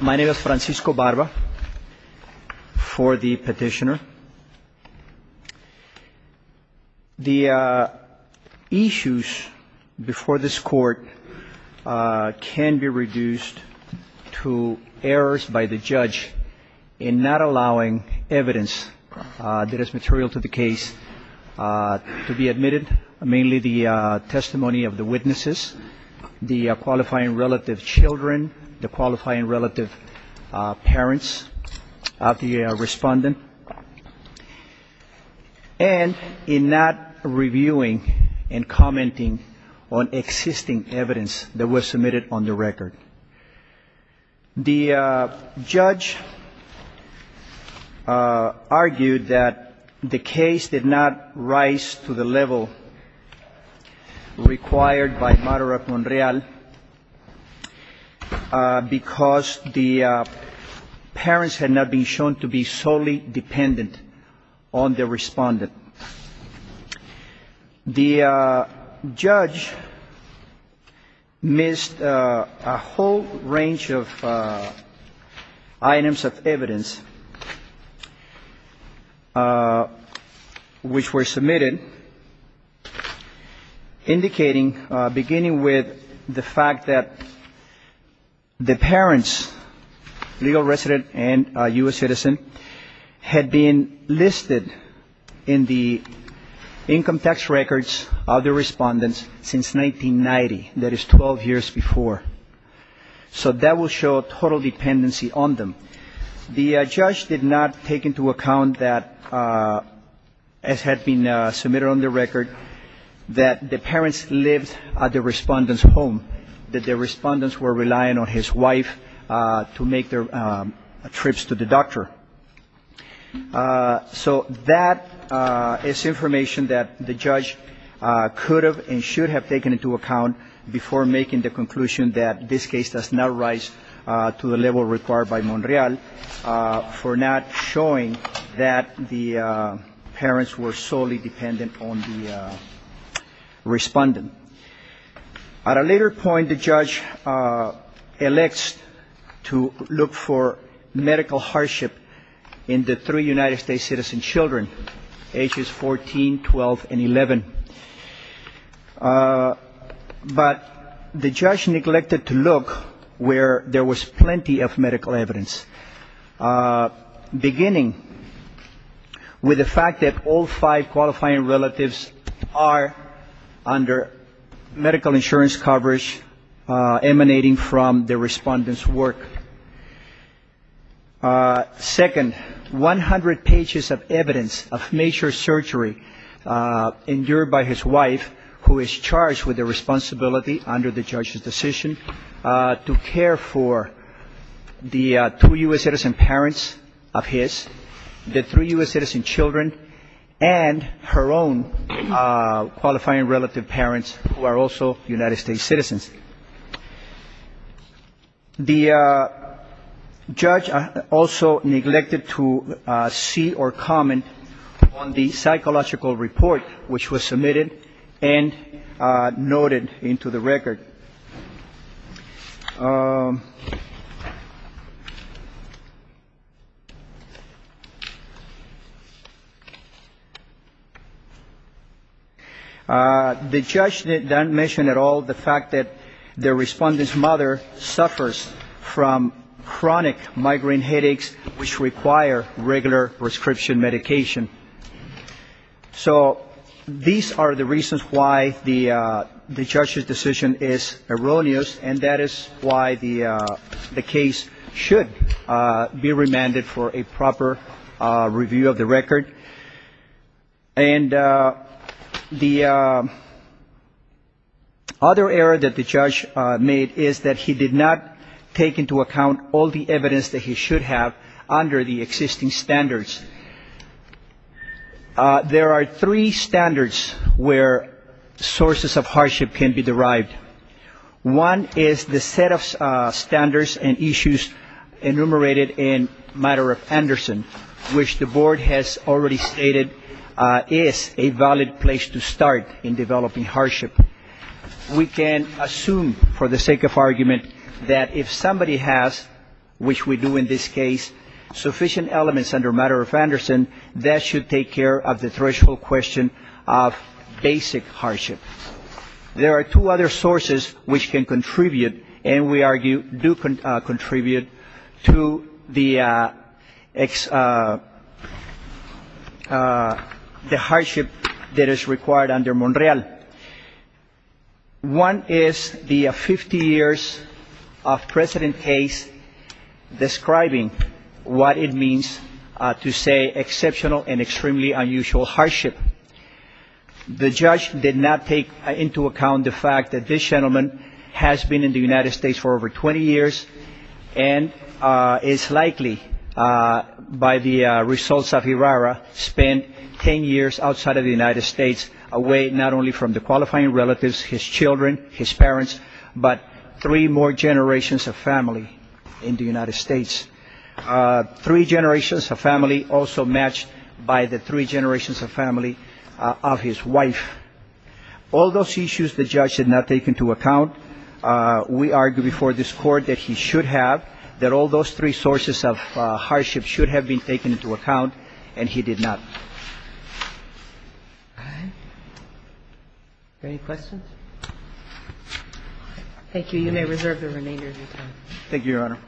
My name is Francisco Barba for the petitioner. The issues before this court can be reduced to errors by the judge in not allowing evidence that is material to the case to be admitted. Mainly the testimony of the witnesses, the qualifying relative children, the qualifying relative parents of the respondent, and in not reviewing and commenting on existing evidence that was submitted on the record. The judge argued that the case did not rise to the level required by matter of Monreal because the parents had not been shown to be solely dependent on the respondent. The judge missed a whole range of items of evidence which were submitted indicating, beginning with the fact that the parents, legal resident and U.S. citizen, had been listed in the petition. The income tax records of the respondents since 1990, that is 12 years before. So that will show total dependency on them. The judge did not take into account that, as had been submitted on the record, that the parents lived at the respondent's home, that the respondents were relying on his wife to make their trips to the doctor. So that is information that the judge could have and should have taken into account before making the conclusion that this case does not rise to the level required by Monreal for not showing that the parents were solely dependent on the respondent. At a later point, the judge elects to look for medical hardship in the three United States citizen children, ages 14, 12, and 11. But the judge neglected to look where there was plenty of medical evidence, beginning with the fact that all five qualifying relatives are under medical hardship. So medical insurance coverage emanating from the respondent's work. Second, 100 pages of evidence of major surgery endured by his wife, who is charged with the responsibility under the judge's decision to care for the two U.S. citizen parents of his, the three U.S. citizen children, and her own qualifying relative parents, who are also United States citizens. The judge also neglected to see or comment on the psychological report which was submitted and noted into the record. The judge did not mention at all the fact that the respondent's mother suffers from chronic migraine headaches which require regular prescription medication. So these are the reasons why the judge's decision is erroneous, and that is why the case should be remanded for a proper review of the record. And the other error that the judge made is that he did not take into account all the evidence that he should have under the existing standards. There are three standards where sources of hardship can be derived. One is the set of standards and issues enumerated in matter of Anderson, which the board has already stated is a valid place to start in developing hardship. We can assume for the sake of argument that if somebody has, which we do in this case, sufficient elements under matter of Anderson, that should take care of the threshold question of basic hardship. There are two other sources which can contribute, and we argue do contribute, to the hardship that is required under Monreal. One is the 50 years of precedent case describing what it means to say exceptional and extremely unusual hardship. The judge did not take into account the fact that this gentleman has been in the United States for over 20 years and is likely, by the results of IRARA, spent 10 years outside of the United States, away not only from the qualifying relatives, his children, his parents, but three more generations of family in the United States. Three generations of family also matched by the three generations of family of his wife. All those issues the judge did not take into account. We argue before this Court that he should have, that all those three sources of hardship should have been taken into account, and he did not. Any questions? Thank you. You may reserve the remainder of your time. Thank you, Your Honor.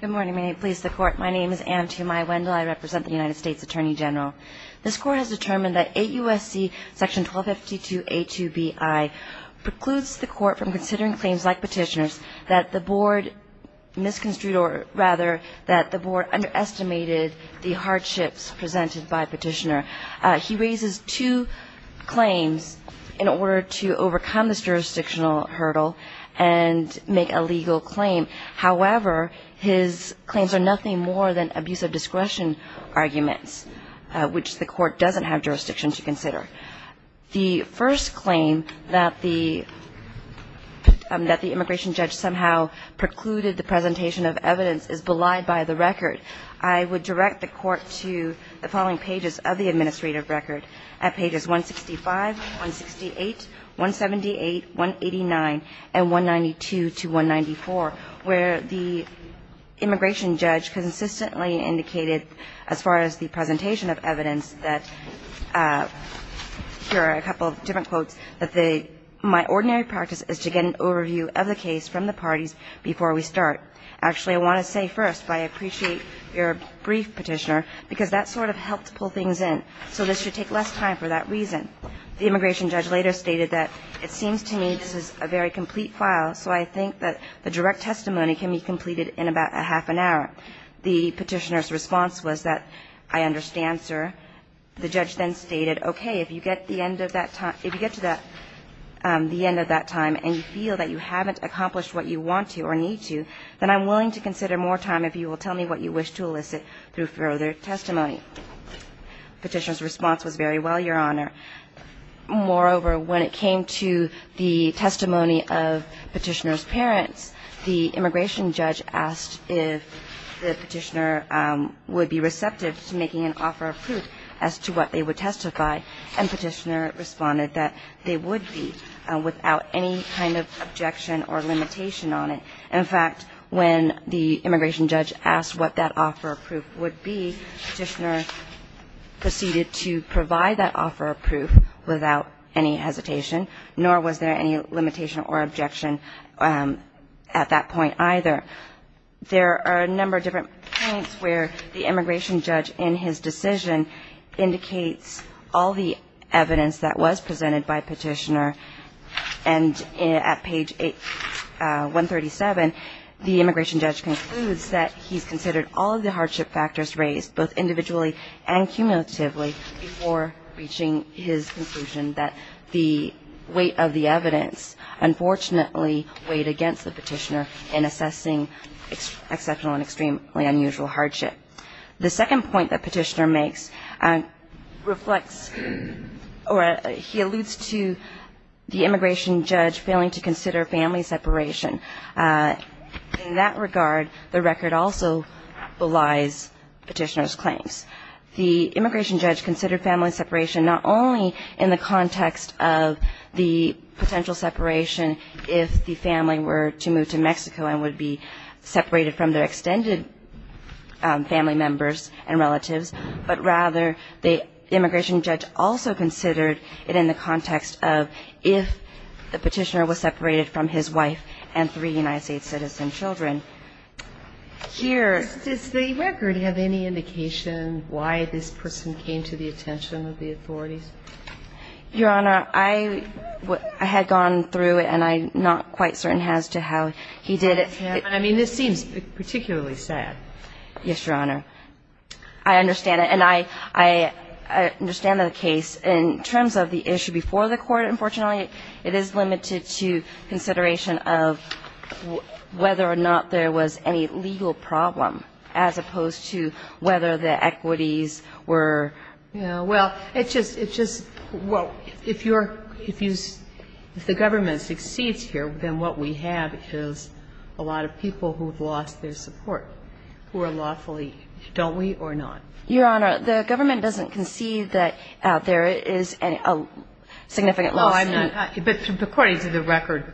Good morning. May it please the Court. My name is Anne Tumai Wendell. I represent the United States Attorney General. This Court has determined that AUSC Section 1252A2BI precludes the Court from considering claims like Petitioner's that the Board misconstrued, or rather, that the Board underestimated the hardships presented by Petitioner. He raises two claims in order to overcome this jurisdictional hurdle and make a legal claim. However, his claims are nothing more than abuse of discretion arguments, which the Court doesn't have jurisdiction to consider. The first claim that the immigration judge somehow precluded the presentation of evidence is belied by the record. I would direct the Court to the following pages of the administrative record at pages 165, 168, 178, 189, and 192 to 194, where the immigration judge consistently indicated as far as the presentation of evidence that, here are a couple of different quotes, that my ordinary practice is to get an overview of the case from the parties before we start. Actually, I want to say first, but I appreciate your brief, Petitioner, because that sort of helped pull things in. So this should take less time for that reason. The immigration judge later stated that it seems to me this is a very complete file, so I think that the direct testimony can be completed in about a half an hour. The Petitioner's response was that, I understand, sir. The judge then stated, okay, if you get to the end of that time and you feel that you haven't accomplished what you want to or need to, then I'm willing to consider more time if you will tell me what you wish to elicit through further testimony. The Petitioner's response was, very well, Your Honor. Moreover, when it came to the testimony of Petitioner's parents, the immigration judge asked if the Petitioner would be receptive to making an offer of proof as to what they would testify, and Petitioner responded that they would be without any kind of objection or limitation on it. In fact, when the immigration judge asked what that offer of proof would be, Petitioner proceeded to provide that offer of proof without any hesitation, nor was there any limitation or objection at that point either. There are a number of different points where the immigration judge in his decision indicates all the evidence that was presented by Petitioner, and at page 137, the immigration judge concludes that he's considered all of the hardship factors raised, both individually and cumulatively, before reaching his conclusion that the weight of the evidence, unfortunately, weighed against the Petitioner in assessing exceptional and extremely unusual hardship. The second point that Petitioner makes reflects, or he alludes to the immigration judge's position that the weight of the evidence, or the weight of the evidence, weighed against the Petitioner in assessing exceptional and extremely unusual hardship factors. In that regard, the record also belies Petitioner's claims. The immigration judge considered family separation not only in the context of the potential separation if the family were to move to Mexico and would be separated from their extended family members and relatives, but rather, the immigration judge also considered it in the context of if the Petitioner was separated from his wife and three United States citizen children. Here the record have any indication why this person came to the attention of the authorities? Your Honor, I had gone through it, and I'm not quite certain as to how he did it. I mean, this seems particularly sad. Yes, Your Honor. I understand it, and I understand the case. In terms of the issue before the court, unfortunately, it is limited to consideration of whether or not there was any legal problem as opposed to whether the equities were, you know, well, it just, it just, well, if you're, if you, if the government succeeds here, then what we have is a lot of people who have lost their support. Who are lawfully, don't we, or not? Your Honor, the government doesn't concede that there is a significant loss. No, I'm not. But according to the record,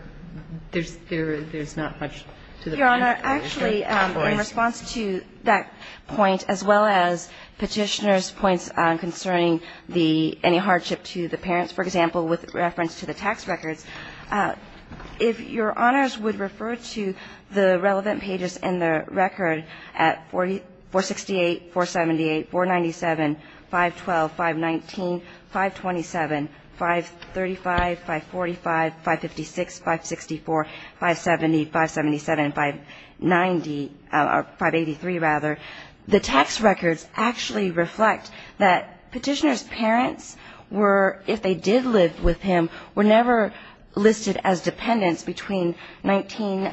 there's not much to the point. Your Honor, actually, in response to that point, as well as Petitioner's points concerning the, any hardship to the parents, for example, with reference to the tax records, if Your Honors would refer to the relevant pages in the record at 468, 478, 497, 512, 519, 527, 535, 545, 556, 564, 570, 577, 590, or 583, rather, the tax records actually reflect that Petitioner's parents were, if they did live with him, were never, you know, listed as dependents between 19,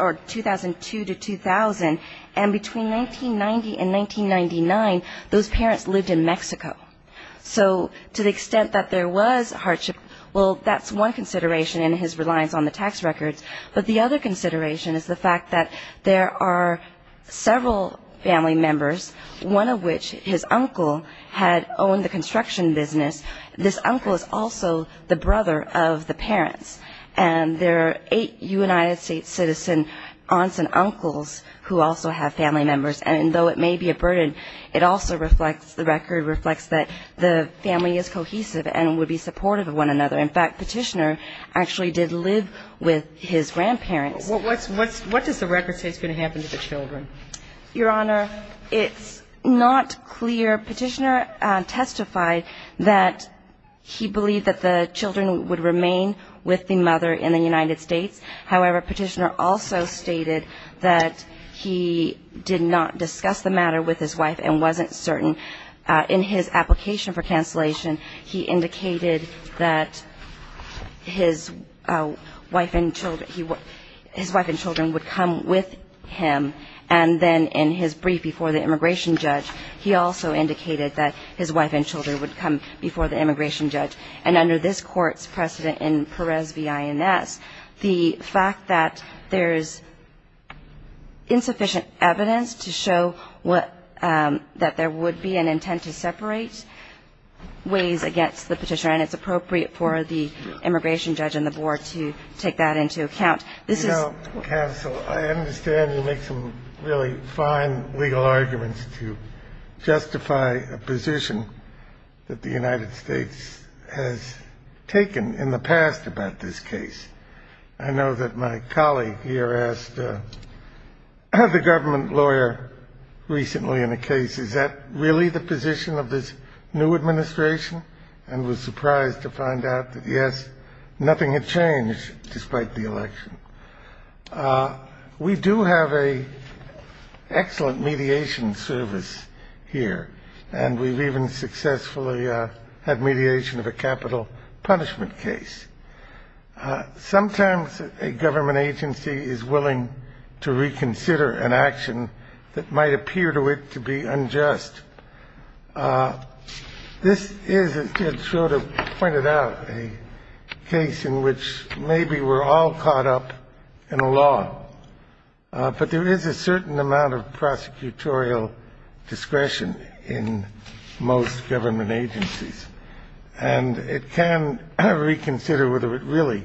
or 2002 to 2000. And between 1990 and 1999, those parents lived in Mexico. So to the extent that there was hardship, well, that's one consideration in his reliance on the tax records. But the other consideration is the fact that there are several family members, one of which his uncle had owned the construction business, this uncle is also the brother of the parents. And there are eight United States citizen aunts and uncles who also have family members. And though it may be a burden, it also reflects, the record reflects that the family is cohesive and would be supportive of one another. In fact, Petitioner actually did live with his grandparents. What does the record say is going to happen to the children? Your Honor, it's not clear. Petitioner testified that he believed that the children would remain with the mother in the United States. However, Petitioner also stated that he did not discuss the matter with his wife and wasn't certain. In his application for cancellation, he indicated that his wife and children, his wife and children would come with him and then in his brief before the immigration judge, he also indicated that his wife and children would come before the immigration judge. And under this Court's precedent in Perez v. INS, the fact that there is insufficient evidence to show that there would be an intent to separate ways against the Petitioner, and it's appropriate for the immigration judge and the board to take that into account. This is... You know, counsel, I understand you make some really fine legal arguments to justify a position that the United States has taken in the past about this case. I know that my colleague here asked the government lawyer recently in a case, is that really the position of this new government agency for the election? We do have an excellent mediation service here, and we've even successfully had mediation of a capital punishment case. Sometimes a government agency is willing to reconsider an action that might appear to it to be unjust. This is, as Ted Schroder pointed out, a case in which maybe we're all caught up in the same trap, but it's not as if we're all caught up in a law. But there is a certain amount of prosecutorial discretion in most government agencies, and it can reconsider whether it really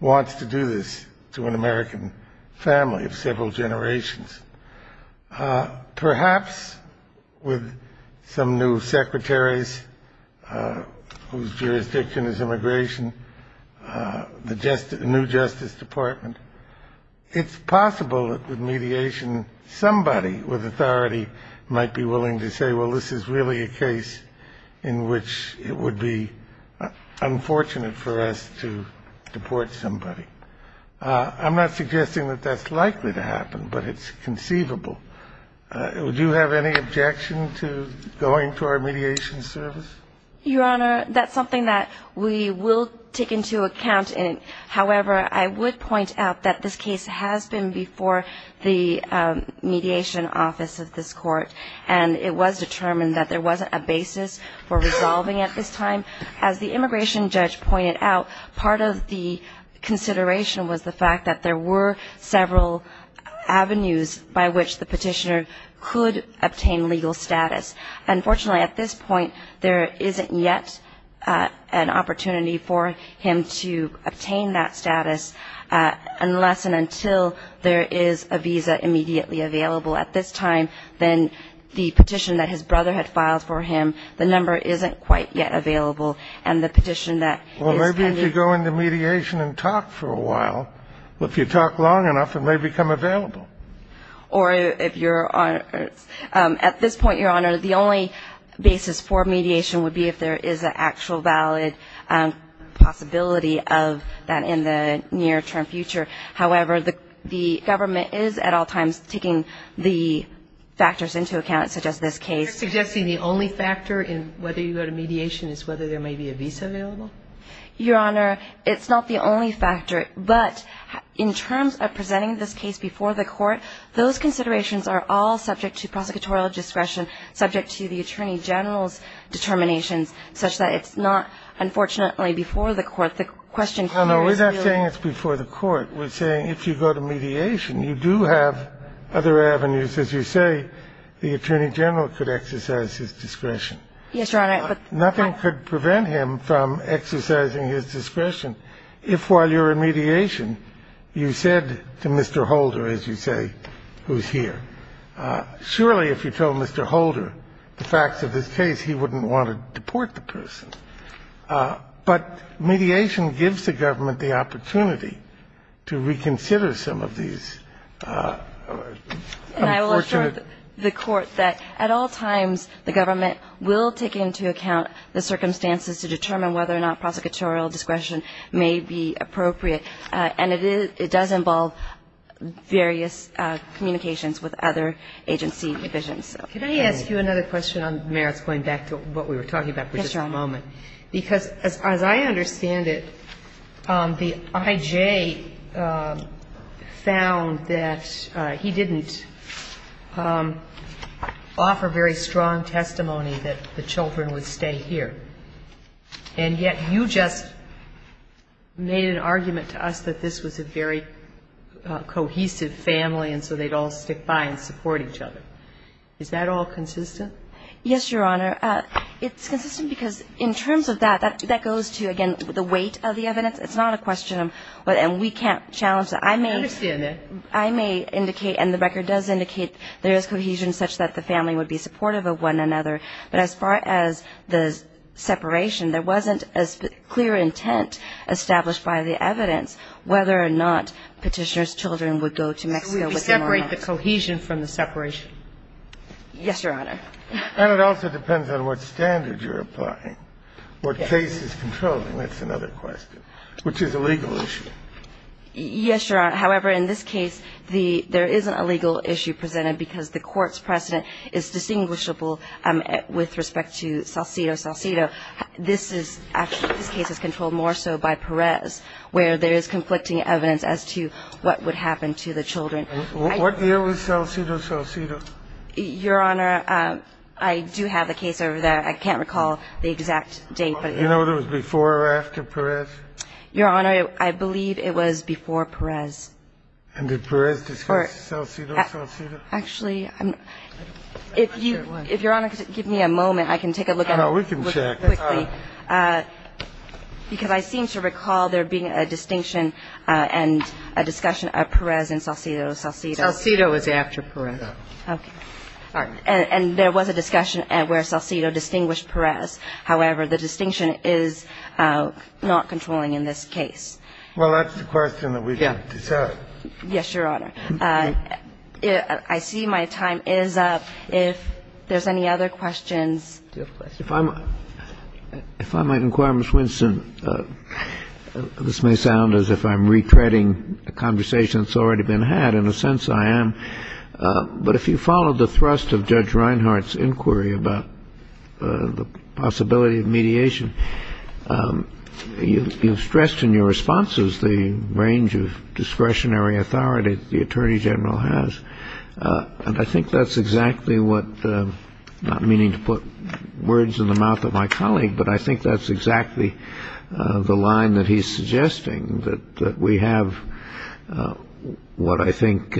wants to do this to an American family of several generations. Perhaps with some new secretaries whose jurisdiction is immigration, the new justice department might be able to do something about it. It's possible that with mediation, somebody with authority might be willing to say, well, this is really a case in which it would be unfortunate for us to deport somebody. I'm not suggesting that that's likely to happen, but it's conceivable. Would you have any objection to going to our mediation service? Your Honor, that's something that we will take into account. However, I would point out that this case has been before the mediation office of this Court, and it was determined that there wasn't a basis for resolving at this time. As the immigration judge pointed out, part of the consideration was the fact that there were several avenues by which the petitioner could obtain legal status. Unfortunately, at this point, there isn't yet an opportunity for him to obtain that status unless and until there is a visa immediately available. At this time, then, the petition that his brother had filed for him, the number isn't quite yet available, and the petition that is pending... Well, maybe if you go into mediation and talk for a while. If you talk long enough, it may become available. Or if you're on at this point, Your Honor, the only basis for mediation would be if there is an actual valid possibility of that in the near-term future. However, the government is at all times taking the factors into account, such as this case. You're suggesting the only factor in whether you go to mediation is whether there may be a visa available? Your Honor, it's not the only factor, but in terms of presenting this case before the court, it's not the only factor. If you go to mediation, you do have other avenues. As you say, the Attorney General could exercise his discretion. Yes, Your Honor, but... Nothing could prevent him from exercising his discretion if, while you're in mediation, you said to Mr. Holder, as you said, that there is a valid possibility of that in the near-term future. Well, I'm not going to say who's here. Surely if you told Mr. Holder the facts of this case, he wouldn't want to deport the person. But mediation gives the government the opportunity to reconsider some of these unfortunate... And I will assure the Court that at all times the government will take into account the circumstances to determine whether or not prosecutorial discretion may be appropriate, and it does involve various communications with other agency divisions. Could I ask you another question on merits, going back to what we were talking about for just a moment? Yes, Your Honor. Because as I understand it, the I.J. found that he didn't offer very strong testimony that the children would stay here. And yet you just made an argument to us that this was a very cohesive family, and so they'd all stick by and support each other. Is that all consistent? Yes, Your Honor. It's consistent because in terms of that, that goes to, again, the weight of the evidence. It's not a question of, and we can't challenge that. I understand that. I may indicate, and the record does indicate there is cohesion such that the family would be supportive of one another, but as far as the separation, there wasn't a clear intent established by the evidence whether or not Petitioner's children would go to Mexico with them or not. Could we separate the cohesion from the separation? Yes, Your Honor. And it also depends on what standard you're applying, what case is controlling. That's another question, which is a legal issue. Yes, Your Honor. However, in this case, there is a legal issue presented because the court's precedent is distinguishable with respect to Salcido, Salcido. This is actually, this case is controlled more so by Perez, where there is conflicting evidence as to what would happen to the children. What year was Salcido, Salcido? Your Honor, I do have the case over there. I can't recall the exact date. You know if it was before or after Perez? Your Honor, I believe it was before Perez. And did Perez discuss Salcido, Salcido? Actually, if Your Honor could give me a moment, I can take a look at it quickly. No, we can check. Because I seem to recall there being a distinction and a discussion of Perez and Salcido, Salcido. Salcido was after Perez. Okay. And there was a discussion where Salcido distinguished Perez. However, the distinction is not controlling in this case. Well, that's the question that we can discuss. Yes, Your Honor. I see my time is up. If there's any other questions. Do you have a question? If I might inquire, Ms. Winston, this may sound as if I'm retreading a conversation that's already been had. In a sense, I am. But if you follow the thrust of Judge Reinhart's inquiry about the possibility of mediation, you've stressed in your responses the range of discretionary authority the Attorney General has. And I think that's exactly what, not meaning to put words in the mouth of my colleague, but I think that's exactly the line that he's suggesting, that we have what I think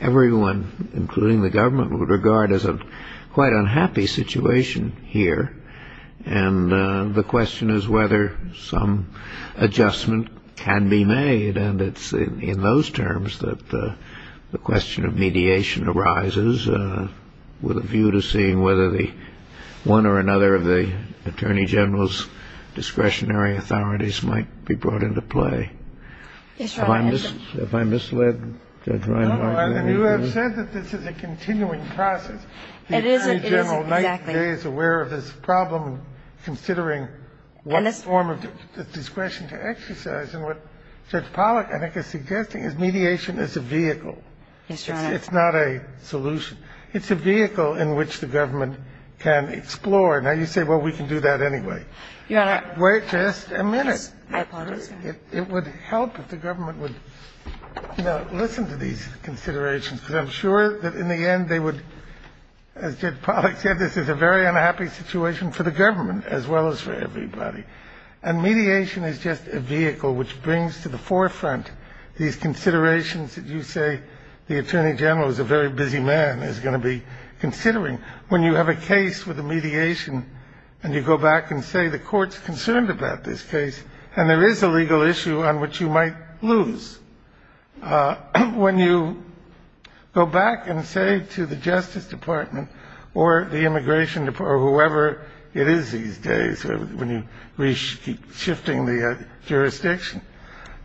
everyone, including the government, would regard as a quite unhappy situation here. And the question is whether some adjustment can be made. And it's in those terms that the question of mediation arises, with a view to seeing whether one or another of the Attorney General's discretionary authorities might be brought into play. Yes, Your Honor. Have I misled Judge Reinhart? No, Your Honor. You have said that this is a continuing process. It isn't. Exactly. The Attorney General is aware of this problem, considering what form of discretion to exercise. And what Judge Pollack, I think, is suggesting is mediation is a vehicle. Yes, Your Honor. It's not a solution. It's a vehicle in which the government can explore. Now, you say, well, we can do that anyway. Wait just a minute. It would help if the government would, you know, listen to these considerations, because I'm sure that in the end they would, as Judge Pollack said, this is a very unhappy situation for the government as well as for everybody. And mediation is just a vehicle which brings to the forefront these considerations that you say the Attorney General is a very busy man, is going to be considering. When you have a case with a mediation and you go back and say the court's concerned about this case and there is a legal issue on which you might lose, when you go back and say to the Justice Department or the Immigration Department or whoever it is these days when you keep shifting the jurisdiction,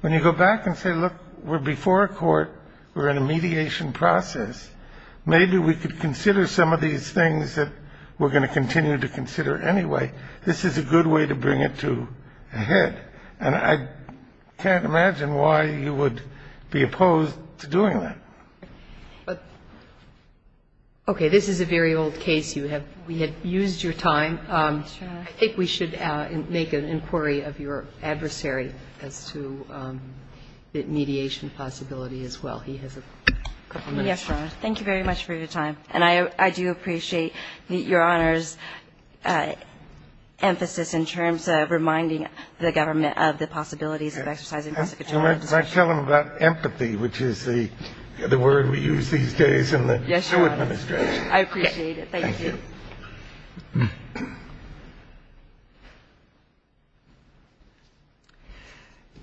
when you go back and say, look, we're before a court. We're in a mediation process. Maybe we could consider some of these things that we're going to continue to consider anyway. This is a good way to bring it to a head. And I can't imagine why you would be opposed to doing that. Okay. This is a very old case. We have used your time. I think we should make an inquiry of your adversary as to the mediation possibility as well. He has a couple minutes. Yes, Your Honor. Thank you very much for your time. And I do appreciate Your Honor's emphasis in terms of reminding the government of the possibilities of exercising prosecutorial jurisdiction. And I tell them about empathy, which is the word we use these days in the administration. Yes, Your Honor. I appreciate it. Thank you.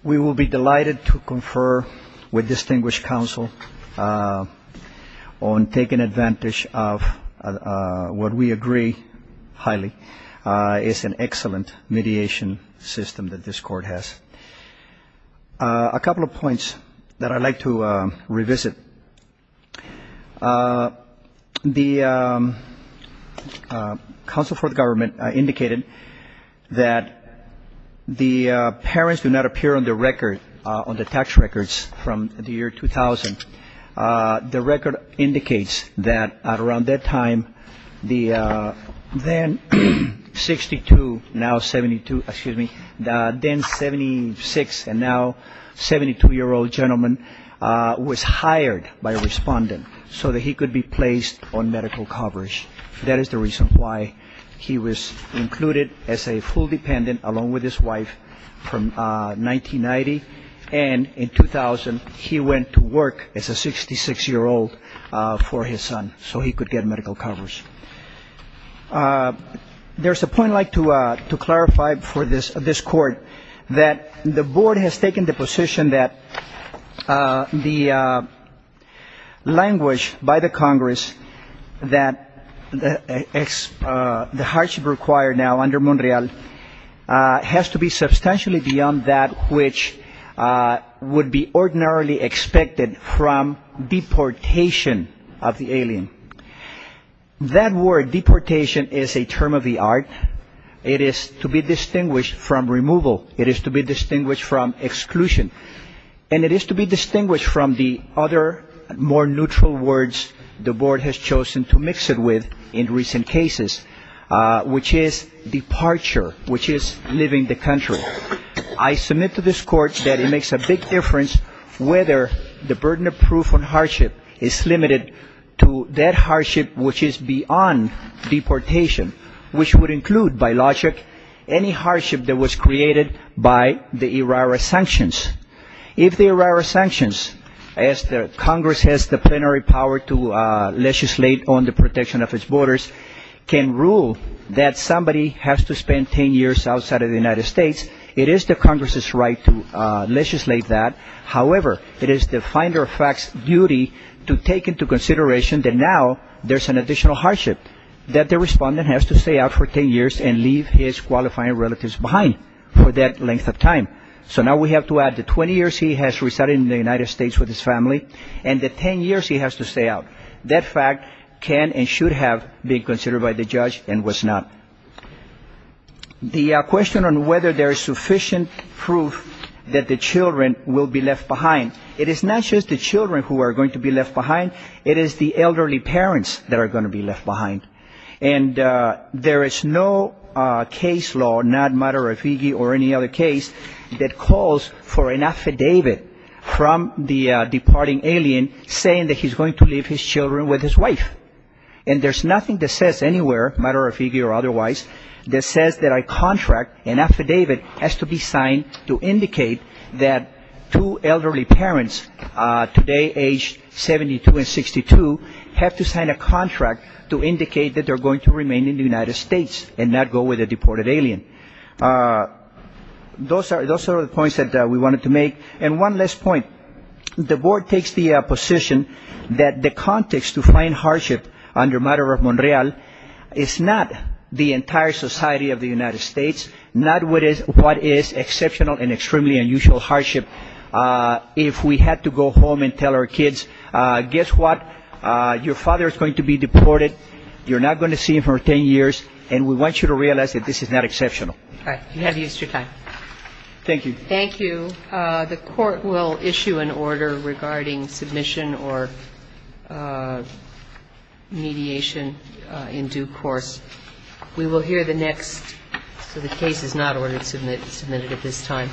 We will be delighted to confer with distinguished counsel on taking advantage of what we agree highly is an excellent mediation system that this Court has. A couple of points that I'd like to revisit. The counsel for the government indicated that the parents do not appear on the record, on the tax records from the year 2000. The record indicates that at around that time, the then 62, now 72, excuse me, the then 76 and now 72-year-old gentleman was hired by a respondent so that he could be placed on medical coverage. That is the reason why he was included as a full dependent along with his wife from 1990. And in 2000, he went to work as a 66-year-old for his son so he could get medical coverage. There's a point I'd like to clarify for this Court that the Board has taken the position that the language by the Congress that the hardship required now under Monreal has to be substantially beyond that which would be ordinarily expected from deportation of the alien. That word deportation is a term of the art. It is to be distinguished from removal. It is to be distinguished from exclusion. And it is to be distinguished from the other more neutral words the Board has chosen to mix it with in recent cases, which is departure, which is leaving the country. I submit to this Court that it makes a big difference whether the burden of proof on hardship is limited to that hardship which is beyond deportation, which would include, by logic, any hardship that was created by the ERARA sanctions. If the ERARA sanctions, as the Congress has the plenary power to legislate on the protection of its borders, can rule that somebody has to spend 10 years outside of the United States, it is the Congress's right to legislate that. However, it is the finder of facts' duty to take into consideration that now there's an additional hardship, that the respondent has to stay out for 10 years and leave his qualifying relatives behind for that length of time. So now we have to add the 20 years he has resided in the United States with his family and the 10 years he has to stay out. That fact can and should have been considered by the judge and was not. The question on whether there is sufficient proof that the children will be left behind, it is not just the children who are going to be left behind, it is the elderly parents that are going to be left behind. And there is no case law, not matter of Iggy or any other case, that calls for an affidavit from the departing alien saying that he's going to leave his children with his wife. And there's nothing that says anywhere, matter of Iggy or otherwise, that says that a contract, an affidavit, has to be signed to indicate that two elderly parents, today aged 72 and 62, have to sign a contract to indicate that they're going to remain in the United States and not go with a deported alien. Those are the points that we wanted to make. And one last point. The board takes the position that the context to find hardship under matter of Monreal is not the entire society of the United States, not what is exceptional and extremely unusual hardship. If we had to go home and tell our kids, guess what, your father is going to be deported, you're not going to see him for 10 years, and we want you to realize that this is not exceptional. All right. You have used your time. Thank you. Thank you. The court will issue an order regarding submission or mediation in due course. We will hear the next. So the case is not ordered to be submitted at this time.